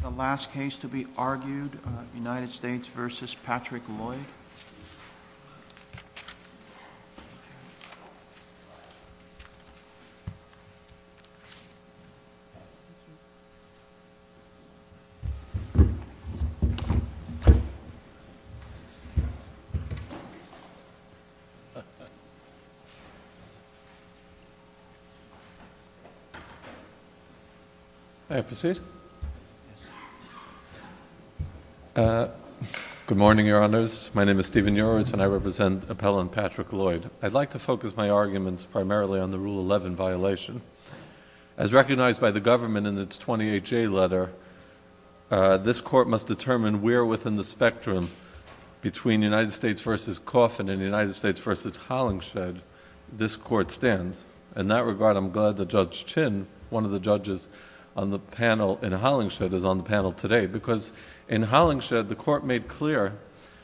The last case to be argued, United States v. Patrick Lloyd. Good morning, Your Honours. My name is Stephen Uritz, and I represent appellant Patrick Lloyd. I'd like to focus my arguments primarily on the Rule 11 violation. As recognized by the government in its 28-J letter, this court must determine where within the spectrum between United States v. Coffin and United States v. Hollingshed this court stands. In that regard, I'm glad that Judge Chin, one of the judges in Hollingshed, is on the panel today, because in Hollingshed, the court made clear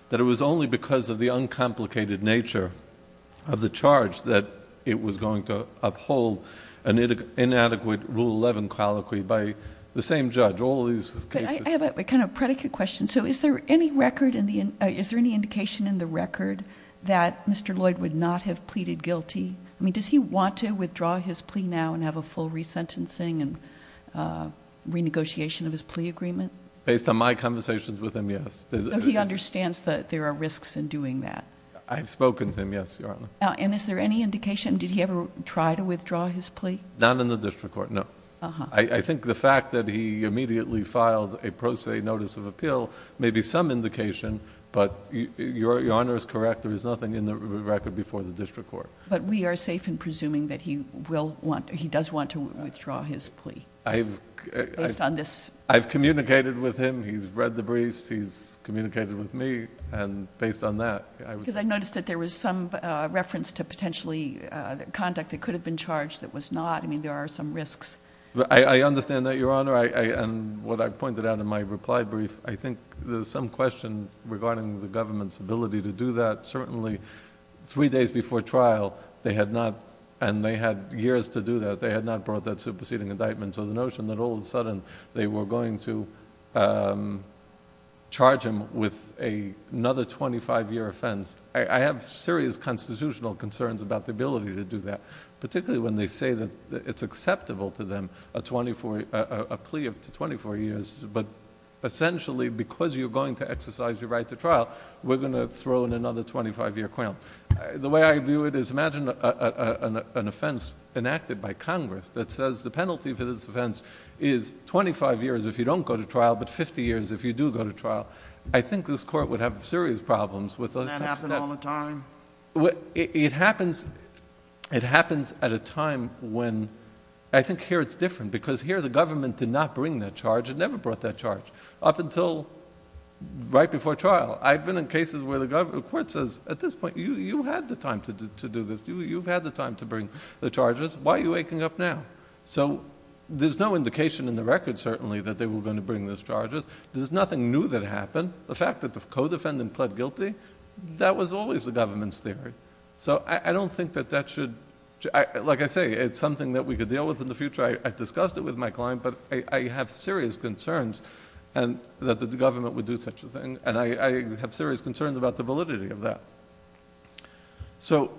that it was only because of the uncomplicated nature of the charge that it was going to uphold an inadequate Rule 11 colloquy by the same judge. I have a kind of predicate question. Is there any indication in the record that Mr. Lloyd would not have pleaded guilty? Does he want to withdraw his plea now and have a full resentencing and renegotiation of his plea agreement? Based on my conversations with him, yes. So he understands that there are risks in doing that? I've spoken to him, yes, Your Honor. And is there any indication? Did he ever try to withdraw his plea? Not in the district court, no. I think the fact that he immediately filed a pro se notice of appeal may be some indication, but Your Honor is correct. There is nothing in the record before the district court. But we are safe in presuming that he does want to withdraw his plea based on this? I've communicated with him. He's read the briefs. He's communicated with me. And based on that, I was... Because I noticed that there was some reference to potentially conduct that could have been charged that was not. I mean, there are some risks. I understand that, Your Honor. And what I pointed out in my reply brief, I think there's some question regarding the government's ability to do that. Certainly, three days before trial, they had not. And they had years to do that. They had not brought that superseding indictment. So the notion that all of a sudden they were going to charge him with another 25-year offense, I have serious constitutional concerns about the ability to do that, particularly when they say that it's acceptable to them a plea up to 24 years. But essentially, because you're going to exercise your right to trial, we're going to throw in another 25-year quill. The way I view it is imagine an offense enacted by Congress that says the penalty for this offense is 25 years if you don't go to trial but 50 years if you do go to trial. I think this court would have serious problems with those types of... Does that happen all the time? It happens at a time when... I think here it's different because here the government did not bring that charge. It never brought that charge up until right before trial. I've been in cases where the court says, at this point, you had the time to do this. You've had the time to bring the charges. Why are you waking up now? There's no indication in the record, certainly, that they were going to bring those charges. There's nothing new that happened. The fact that the co-defendant pled guilty, that was always the government's theory. I don't think that that should... Like I say, it's something that we could deal with in the future. I've discussed it with my client, but I have serious concerns that the government would do such a thing, and I have serious concerns about the validity of that. So...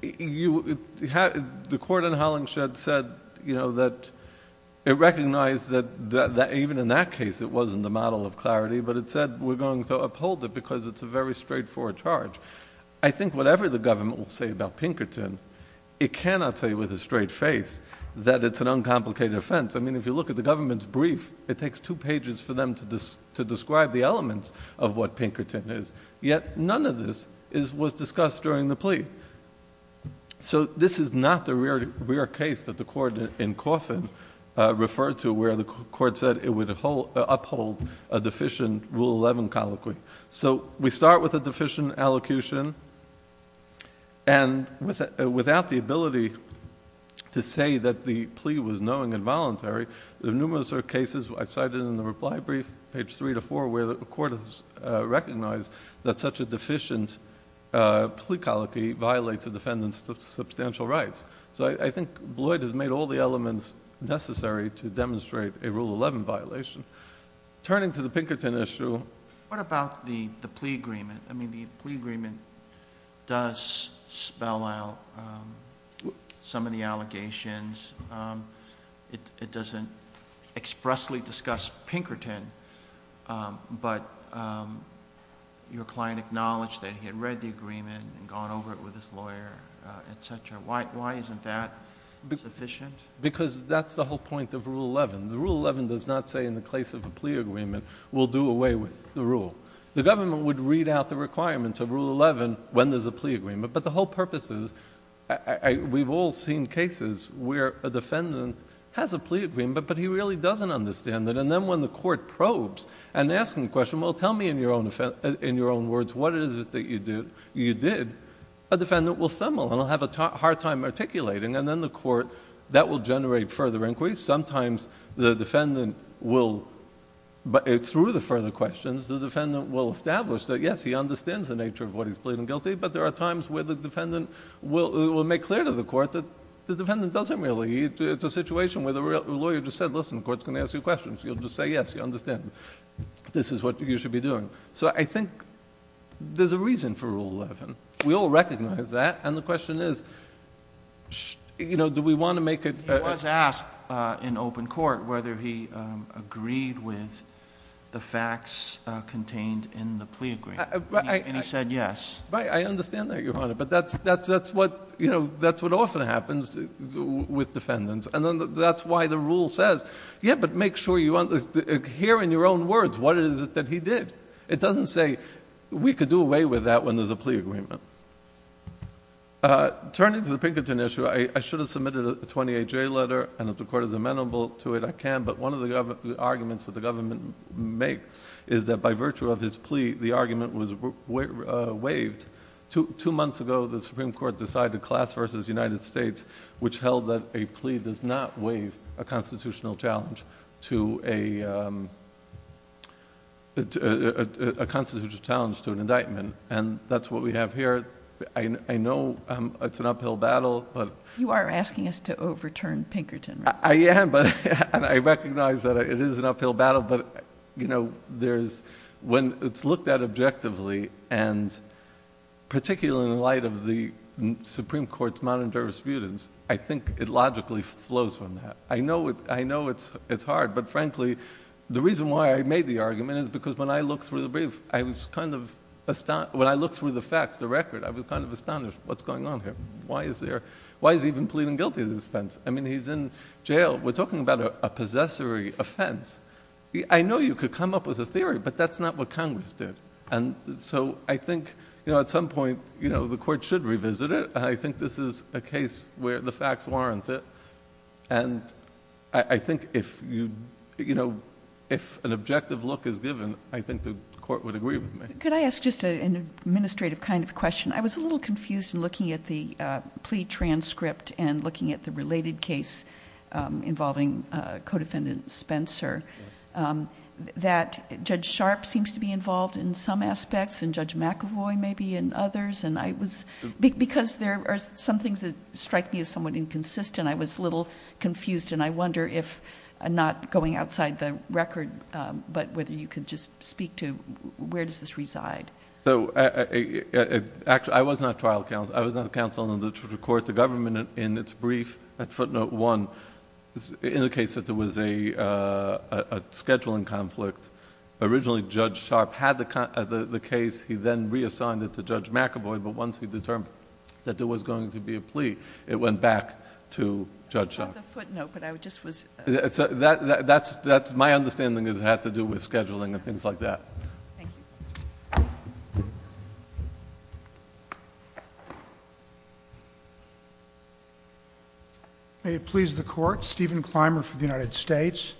The court in Hollingshed said that... It recognized that even in that case it wasn't a model of clarity, but it said we're going to uphold it because it's a very straightforward charge. I think whatever the government will say about Pinkerton, it cannot say with a straight face that it's an uncomplicated offense. I mean, if you look at the government's brief, it takes two pages for them to describe the elements of what Pinkerton is, yet none of this was discussed during the plea. So this is not the rare case that the court in Coffin referred to where the court said it would uphold a deficient Rule 11 colloquy. So we start with a deficient allocution, and without the ability to say that the plea was knowing and voluntary, there are numerous cases I've cited in the reply brief, page 3 to 4, where the court has recognized that such a deficient plea colloquy violates a defendant's substantial rights. So I think Lloyd has made all the elements necessary to demonstrate a Rule 11 violation. Turning to the Pinkerton issue... What about the plea agreement? It doesn't expressly discuss Pinkerton, but your client acknowledged that he had read the agreement and gone over it with his lawyer, et cetera. Why isn't that sufficient? Because that's the whole point of Rule 11. Rule 11 does not say in the case of a plea agreement, we'll do away with the rule. The government would read out the requirements of Rule 11 when there's a plea agreement, but the whole purpose is... We've all seen cases where a defendant has a plea agreement, but he really doesn't understand it, and then when the court probes and asks him a question, well, tell me in your own words what it is that you did, a defendant will stumble and will have a hard time articulating, and then the court... that will generate further inquiries. Sometimes the defendant will... Through the further questions, the defendant will establish that yes, he understands the nature of what he's pleading guilty, but there are times where the defendant will make clear to the court that the defendant doesn't really... It's a situation where the lawyer just said, listen, the court's going to ask you questions. You'll just say yes, you understand. This is what you should be doing. I think there's a reason for Rule 11. We all recognize that, and the question is, do we want to make it... He was asked in open court whether he agreed with the facts contained in the plea agreement, and he said yes. Right, I understand that, Your Honor, but that's what often happens with defendants, and that's why the rule says, yeah, but make sure you... Here in your own words, what is it that he did? It doesn't say, we could do away with that when there's a plea agreement. Turning to the Pinkerton issue, I should have submitted a 28-J letter, and if the court is amenable to it, I can, but one of the arguments that the government makes is that by virtue of his plea, the argument was waived. Two months ago, the Supreme Court decided class versus United States, which held that a plea does not waive a constitutional challenge to an indictment, and that's what we have here. I know it's an uphill battle, but... You are asking us to overturn Pinkerton, right? I am, and I recognize that it is an uphill battle, but when it's looked at objectively, and particularly in light of the Supreme Court's modern jurisprudence, I think it logically flows from that. I know it's hard, but frankly, the reason why I made the argument is because when I looked through the facts, the record, I was kind of astonished. What's going on here? Why is he even pleading guilty to this offense? I mean, he's in jail. We're talking about a possessory offense. I know you could come up with a theory, but that's not what Congress did. And so I think at some point the court should revisit it. I think this is a case where the facts warrant it, and I think if an objective look is given, I think the court would agree with me. Could I ask just an administrative kind of question? I was a little confused in looking at the plea transcript and looking at the related case involving Codefendant Spencer, that Judge Sharp seems to be involved in some aspects and Judge McAvoy maybe in others. Because there are some things that strike me as somewhat inconsistent, I was a little confused, and I wonder if... I'm not going outside the record, but whether you could just speak to where does this reside? Actually, I was not trial counsel. I was not counsel in the court. The government, in its brief at footnote one, indicates that there was a scheduling conflict. Originally, Judge Sharp had the case. He then reassigned it to Judge McAvoy, but once he determined that there was going to be a plea, it went back to Judge Sharp. I saw the footnote, but I just was... My understanding is it had to do with scheduling and things like that. Thank you. May it please the Court. Stephen Clymer for the United States.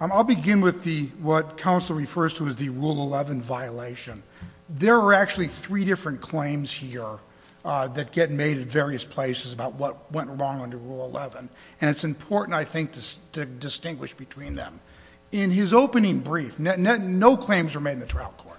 I'll begin with what counsel refers to as the Rule 11 violation. There are actually three different claims here that get made at various places about what went wrong under Rule 11, and it's important, I think, to distinguish between them. In his opening brief, no claims were made in the trial court.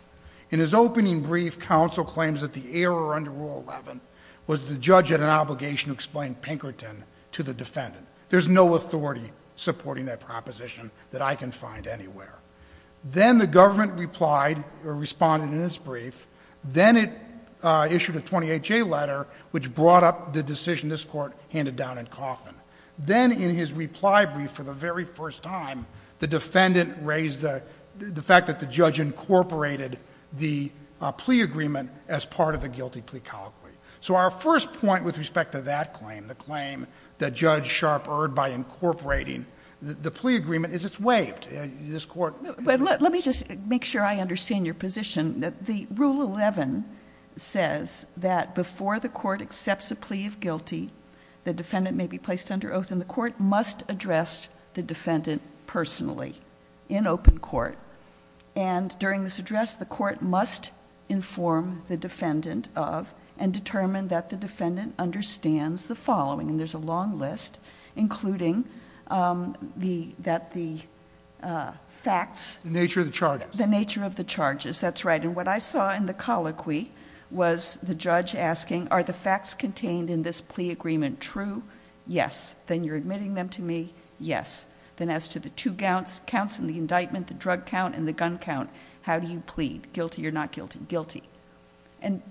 In his opening brief, counsel claims that the error under Rule 11 was the judge had an obligation to explain Pinkerton to the defendant. There's no authority supporting that proposition that I can find anywhere. Then the government replied or responded in its brief. Then it issued a 28-J letter, which brought up the decision this court handed down in Coffman. Then in his reply brief for the very first time, the defendant raised the fact that the judge incorporated the plea agreement as part of the guilty plea colloquy. So our first point with respect to that claim, the claim that Judge Sharp erred by incorporating the plea agreement, is it's waived. This Court... Let me just make sure I understand your position. The Rule 11 says that before the court accepts a plea of guilty, the defendant may be placed under oath, and the court must address the defendant personally in open court. During this address, the court must inform the defendant of and determine that the defendant understands the following, and there's a long list, including that the facts... The nature of the charges. The nature of the charges, that's right. What I saw in the colloquy was the judge asking, are the facts contained in this plea agreement true? Yes. Then you're admitting them to me? Yes. Then as to the two counts in the indictment, the drug count and the gun count, how do you plead? Guilty or not guilty? Guilty.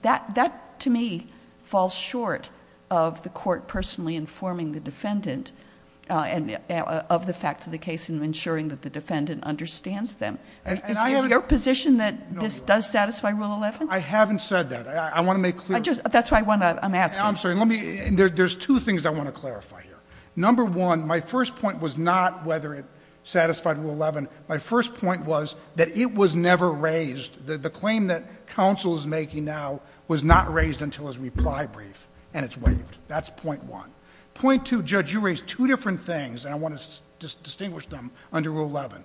That, to me, falls short of the court personally informing the defendant of the facts of the case and ensuring that the defendant understands them. Is your position that this does satisfy Rule 11? I haven't said that. I want to make clear... That's why I'm asking. I'm sorry. There's two things I want to clarify here. Number one, my first point was not whether it satisfied Rule 11. My first point was that it was never raised. The claim that counsel is making now was not raised until his reply brief, and it's waived. That's point one. Point two, Judge, you raised two different things, and I want to distinguish them under Rule 11.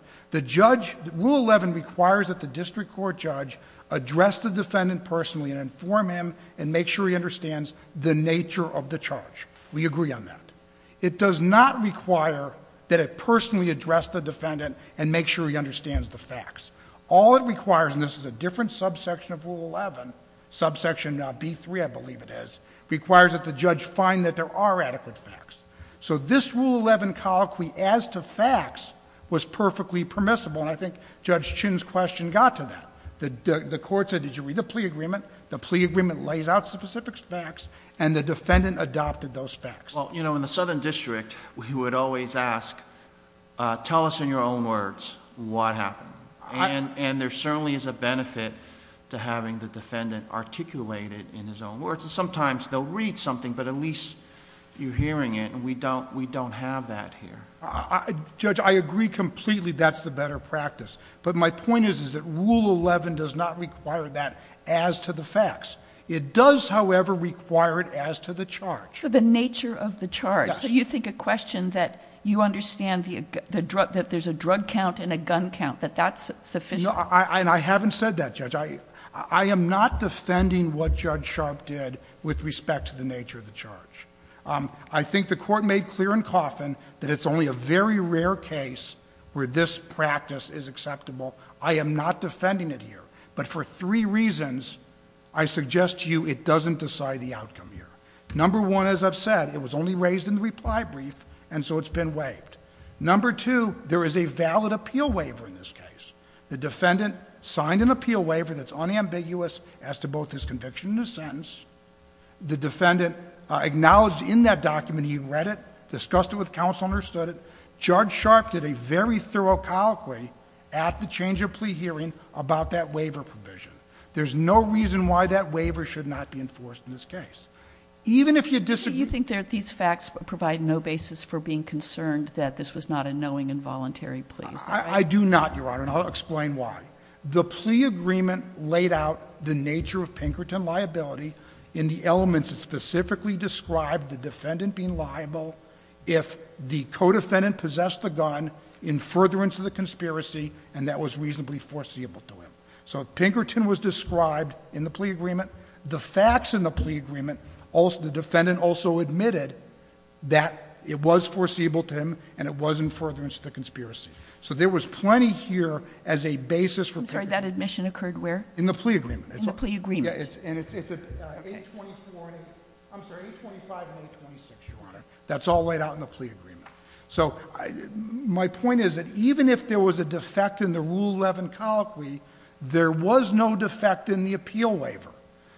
Rule 11 requires that the district court judge address the defendant personally and inform him and make sure he understands the nature of the charge. We agree on that. It does not require that it personally address the defendant and make sure he understands the facts. All it requires, and this is a different subsection of Rule 11, subsection B3, I believe it is, requires that the judge find that there are adequate facts. So this Rule 11 colloquy as to facts was perfectly permissible, and I think Judge Chin's question got to that. The court said, did you read the plea agreement? The plea agreement lays out specific facts, and the defendant adopted those facts. Well, you know, in the Southern District, we would always ask, tell us in your own words what happened. And there certainly is a benefit to having the defendant articulate it in his own words. Sometimes they'll read something, but at least you're hearing it, and we don't have that here. Judge, I agree completely that's the better practice. But my point is that Rule 11 does not require that as to the facts. It does, however, require it as to the charge. So the nature of the charge. Yes. So you think a question that you understand that there's a drug count and a gun count, that that's sufficient? No, and I haven't said that, Judge. I think the court made clear in Coffin that it's only a very rare case where this practice is acceptable. I am not defending it here. But for three reasons, I suggest to you it doesn't decide the outcome here. Number one, as I've said, it was only raised in the reply brief, and so it's been waived. Number two, there is a valid appeal waiver in this case. The defendant signed an appeal waiver that's unambiguous as to both his conviction and his sentence. The defendant acknowledged in that document he read it, discussed it with counsel, understood it. Judge Sharpe did a very thorough colloquy at the change of plea hearing about that waiver provision. There's no reason why that waiver should not be enforced in this case. Even if you disagree. So you think that these facts provide no basis for being concerned that this was not a knowing and voluntary plea? I do not, Your Honor, and I'll explain why. The plea agreement laid out the nature of Pinkerton liability in the elements that specifically described the defendant being liable if the co-defendant possessed the gun in furtherance of the conspiracy and that was reasonably foreseeable to him. So Pinkerton was described in the plea agreement. The facts in the plea agreement, the defendant also admitted that it was foreseeable to him and it was in furtherance of the conspiracy. So there was plenty here as a basis for Pinkerton. I'm sorry, that admission occurred where? In the plea agreement. In the plea agreement. And it's at 824, I'm sorry, 825 and 826, Your Honor. That's all laid out in the plea agreement. So my point is that even if there was a defect in the Rule 11 colloquy, there was no defect in the appeal waiver.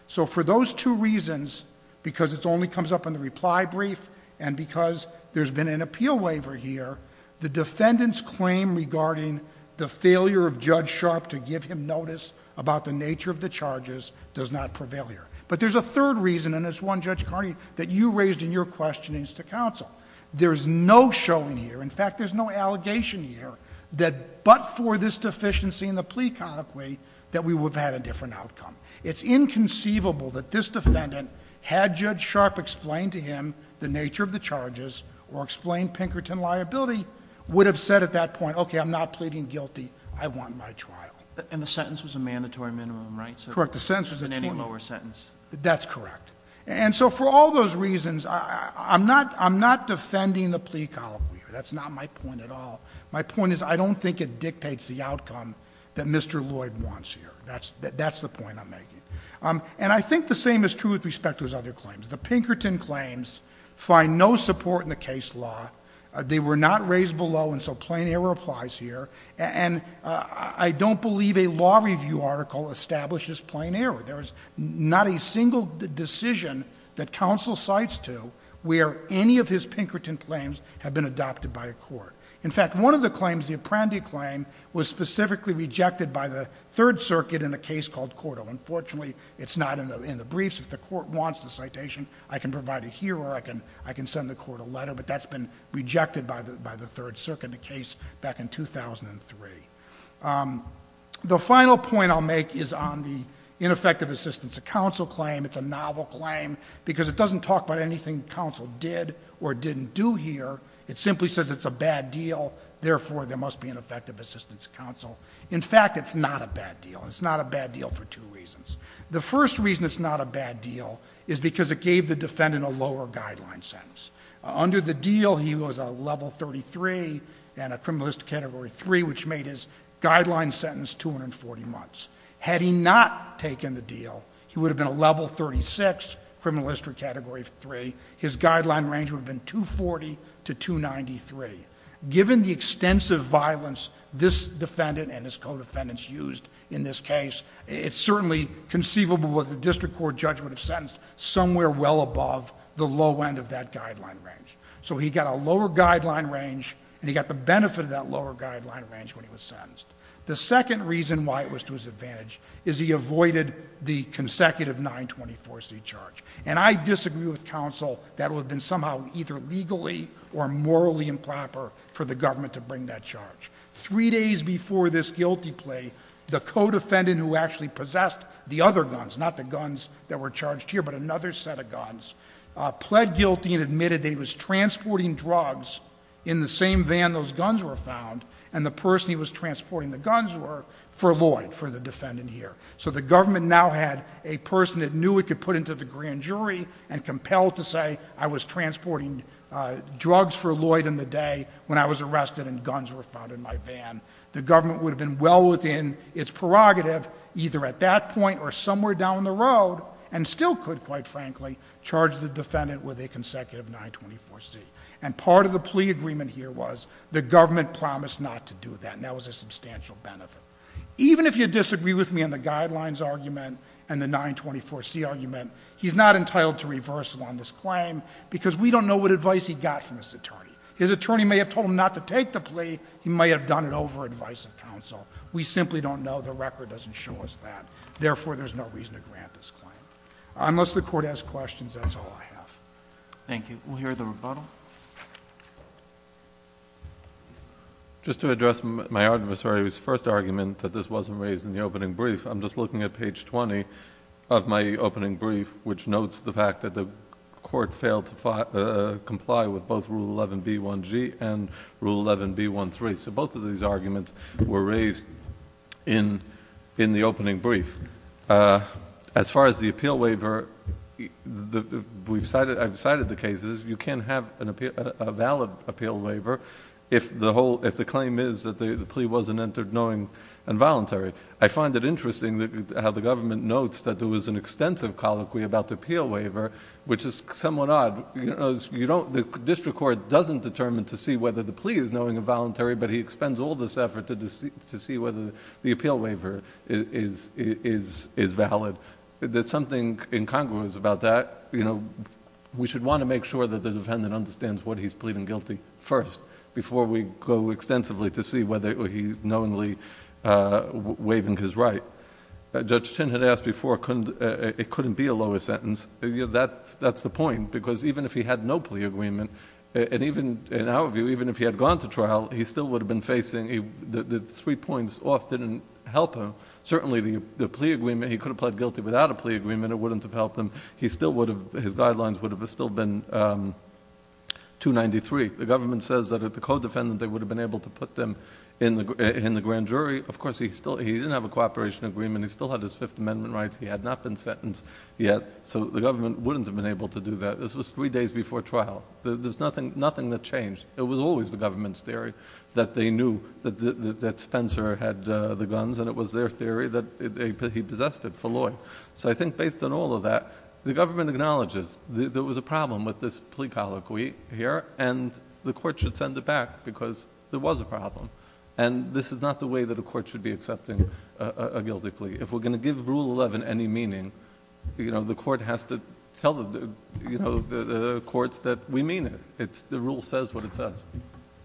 So for those two reasons, because it only comes up in the reply brief and because there's been an appeal waiver here, the defendant's claim regarding the failure of Judge Sharp to give him notice about the nature of the charges does not prevail here. But there's a third reason, and it's one, Judge Carney, that you raised in your questionings to counsel. There's no showing here, in fact, there's no allegation here that but for this deficiency in the plea colloquy that we would have had a different outcome. It's inconceivable that this defendant, had Judge Sharp explained to him the nature of the charges or explained Pinkerton liability, would have said at that point, okay, I'm not pleading guilty. I want my trial. And the sentence was a mandatory minimum, right? Correct. The sentence was a 20. In any lower sentence. That's correct. And so for all those reasons, I'm not defending the plea colloquy here. That's not my point at all. My point is I don't think it dictates the outcome that Mr. Lloyd wants here. That's the point I'm making. And I think the same is true with respect to his other claims. The Pinkerton claims find no support in the case law. They were not raised below, and so plain error applies here. And I don't believe a law review article establishes plain error. There is not a single decision that counsel cites to where any of his Pinkerton claims have been adopted by a court. In fact, one of the claims, the Apprendi claim, was specifically rejected by the Third Circuit in a case called Cordo. Unfortunately, it's not in the briefs. If the court wants the citation, I can provide it here, or I can send the court a letter. But that's been rejected by the Third Circuit in a case back in 2003. The final point I'll make is on the ineffective assistance of counsel claim. It's a novel claim because it doesn't talk about anything counsel did or didn't do here. It simply says it's a bad deal, therefore there must be an effective assistance of counsel. In fact, it's not a bad deal. It's not a bad deal for two reasons. The first reason it's not a bad deal is because it gave the defendant a lower guideline sentence. Under the deal, he was a level 33 and a criminal history category 3, which made his guideline sentence 240 months. Had he not taken the deal, he would have been a level 36 criminal history category 3. His guideline range would have been 240 to 293. Given the extensive violence this defendant and his co-defendants used in this case, it's certainly conceivable what the district court judge would have sentenced somewhere well above the low end of that guideline range. So he got a lower guideline range, and he got the benefit of that lower guideline range when he was sentenced. The second reason why it was to his advantage is he avoided the consecutive 924c charge. And I disagree with counsel that it would have been somehow either legally or morally improper for the government to bring that charge. Three days before this guilty plea, the co-defendant who actually possessed the other guns, not the guns that were charged here, but another set of guns, pled guilty and admitted that he was transporting drugs in the same van those guns were found and the person he was transporting the guns were for Lloyd, for the defendant here. So the government now had a person it knew it could put into the grand jury and compelled to say, I was transporting drugs for Lloyd in the day when I was arrested and guns were found in my van. The government would have been well within its prerogative either at that point or somewhere down the road and still could, quite frankly, charge the defendant with a consecutive 924c. And part of the plea agreement here was the government promised not to do that, and that was a substantial benefit. Even if you disagree with me on the guidelines argument and the 924c argument, he's not entitled to reversal on this claim because we don't know what advice he got from this attorney. His attorney may have told him not to take the plea. He may have done it over advice of counsel. We simply don't know. The record doesn't show us that. Therefore, there's no reason to grant this claim. Unless the Court has questions, that's all I have. Thank you. We'll hear the rebuttal. Just to address my adversary's first argument that this wasn't raised in the opening brief, I'm just looking at page 20 of my opening brief, which notes the fact that the Court failed to comply with both Rule 11b1g and Rule 11b1c. So both of these arguments were raised in the opening brief. As far as the appeal waiver, I've cited the cases. You can't have a valid appeal waiver I find it interesting how the government notes that there was an extensive colloquy about the appeal waiver, which is somewhat odd. The district court doesn't determine to see whether the plea is knowing and voluntary, but he expends all this effort to see whether the appeal waiver is valid. There's something incongruous about that. We should want to make sure that the defendant understands what he's pleading guilty first before we go extensively to see whether he's knowingly waiving his right. Judge Chin had asked before it couldn't be a lower sentence. That's the point, because even if he had no plea agreement, and in our view, even if he had gone to trial, he still would have been facing... The three points off didn't help him. Certainly the plea agreement, he could have pled guilty without a plea agreement, it wouldn't have helped him. His guidelines would have still been 293. The government says that if the co-defendant, they would have been able to put them in the grand jury. Of course, he didn't have a cooperation agreement. He still had his Fifth Amendment rights. He had not been sentenced yet, so the government wouldn't have been able to do that. This was three days before trial. There's nothing that changed. It was always the government's theory that they knew that Spencer had the guns, and it was their theory that he possessed it for law. So I think based on all of that, the government acknowledges that there was a problem with this plea colloquy here, and the court should send it back, because there was a problem. And this is not the way that a court should be accepting a guilty plea. If we're going to give Rule 11 any meaning, the court has to tell the courts that we mean it. The rule says what it says.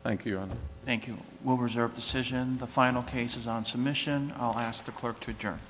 Thank you, Your Honor. Thank you. We'll reserve decision. The final case is on submission. I'll ask the clerk to adjourn.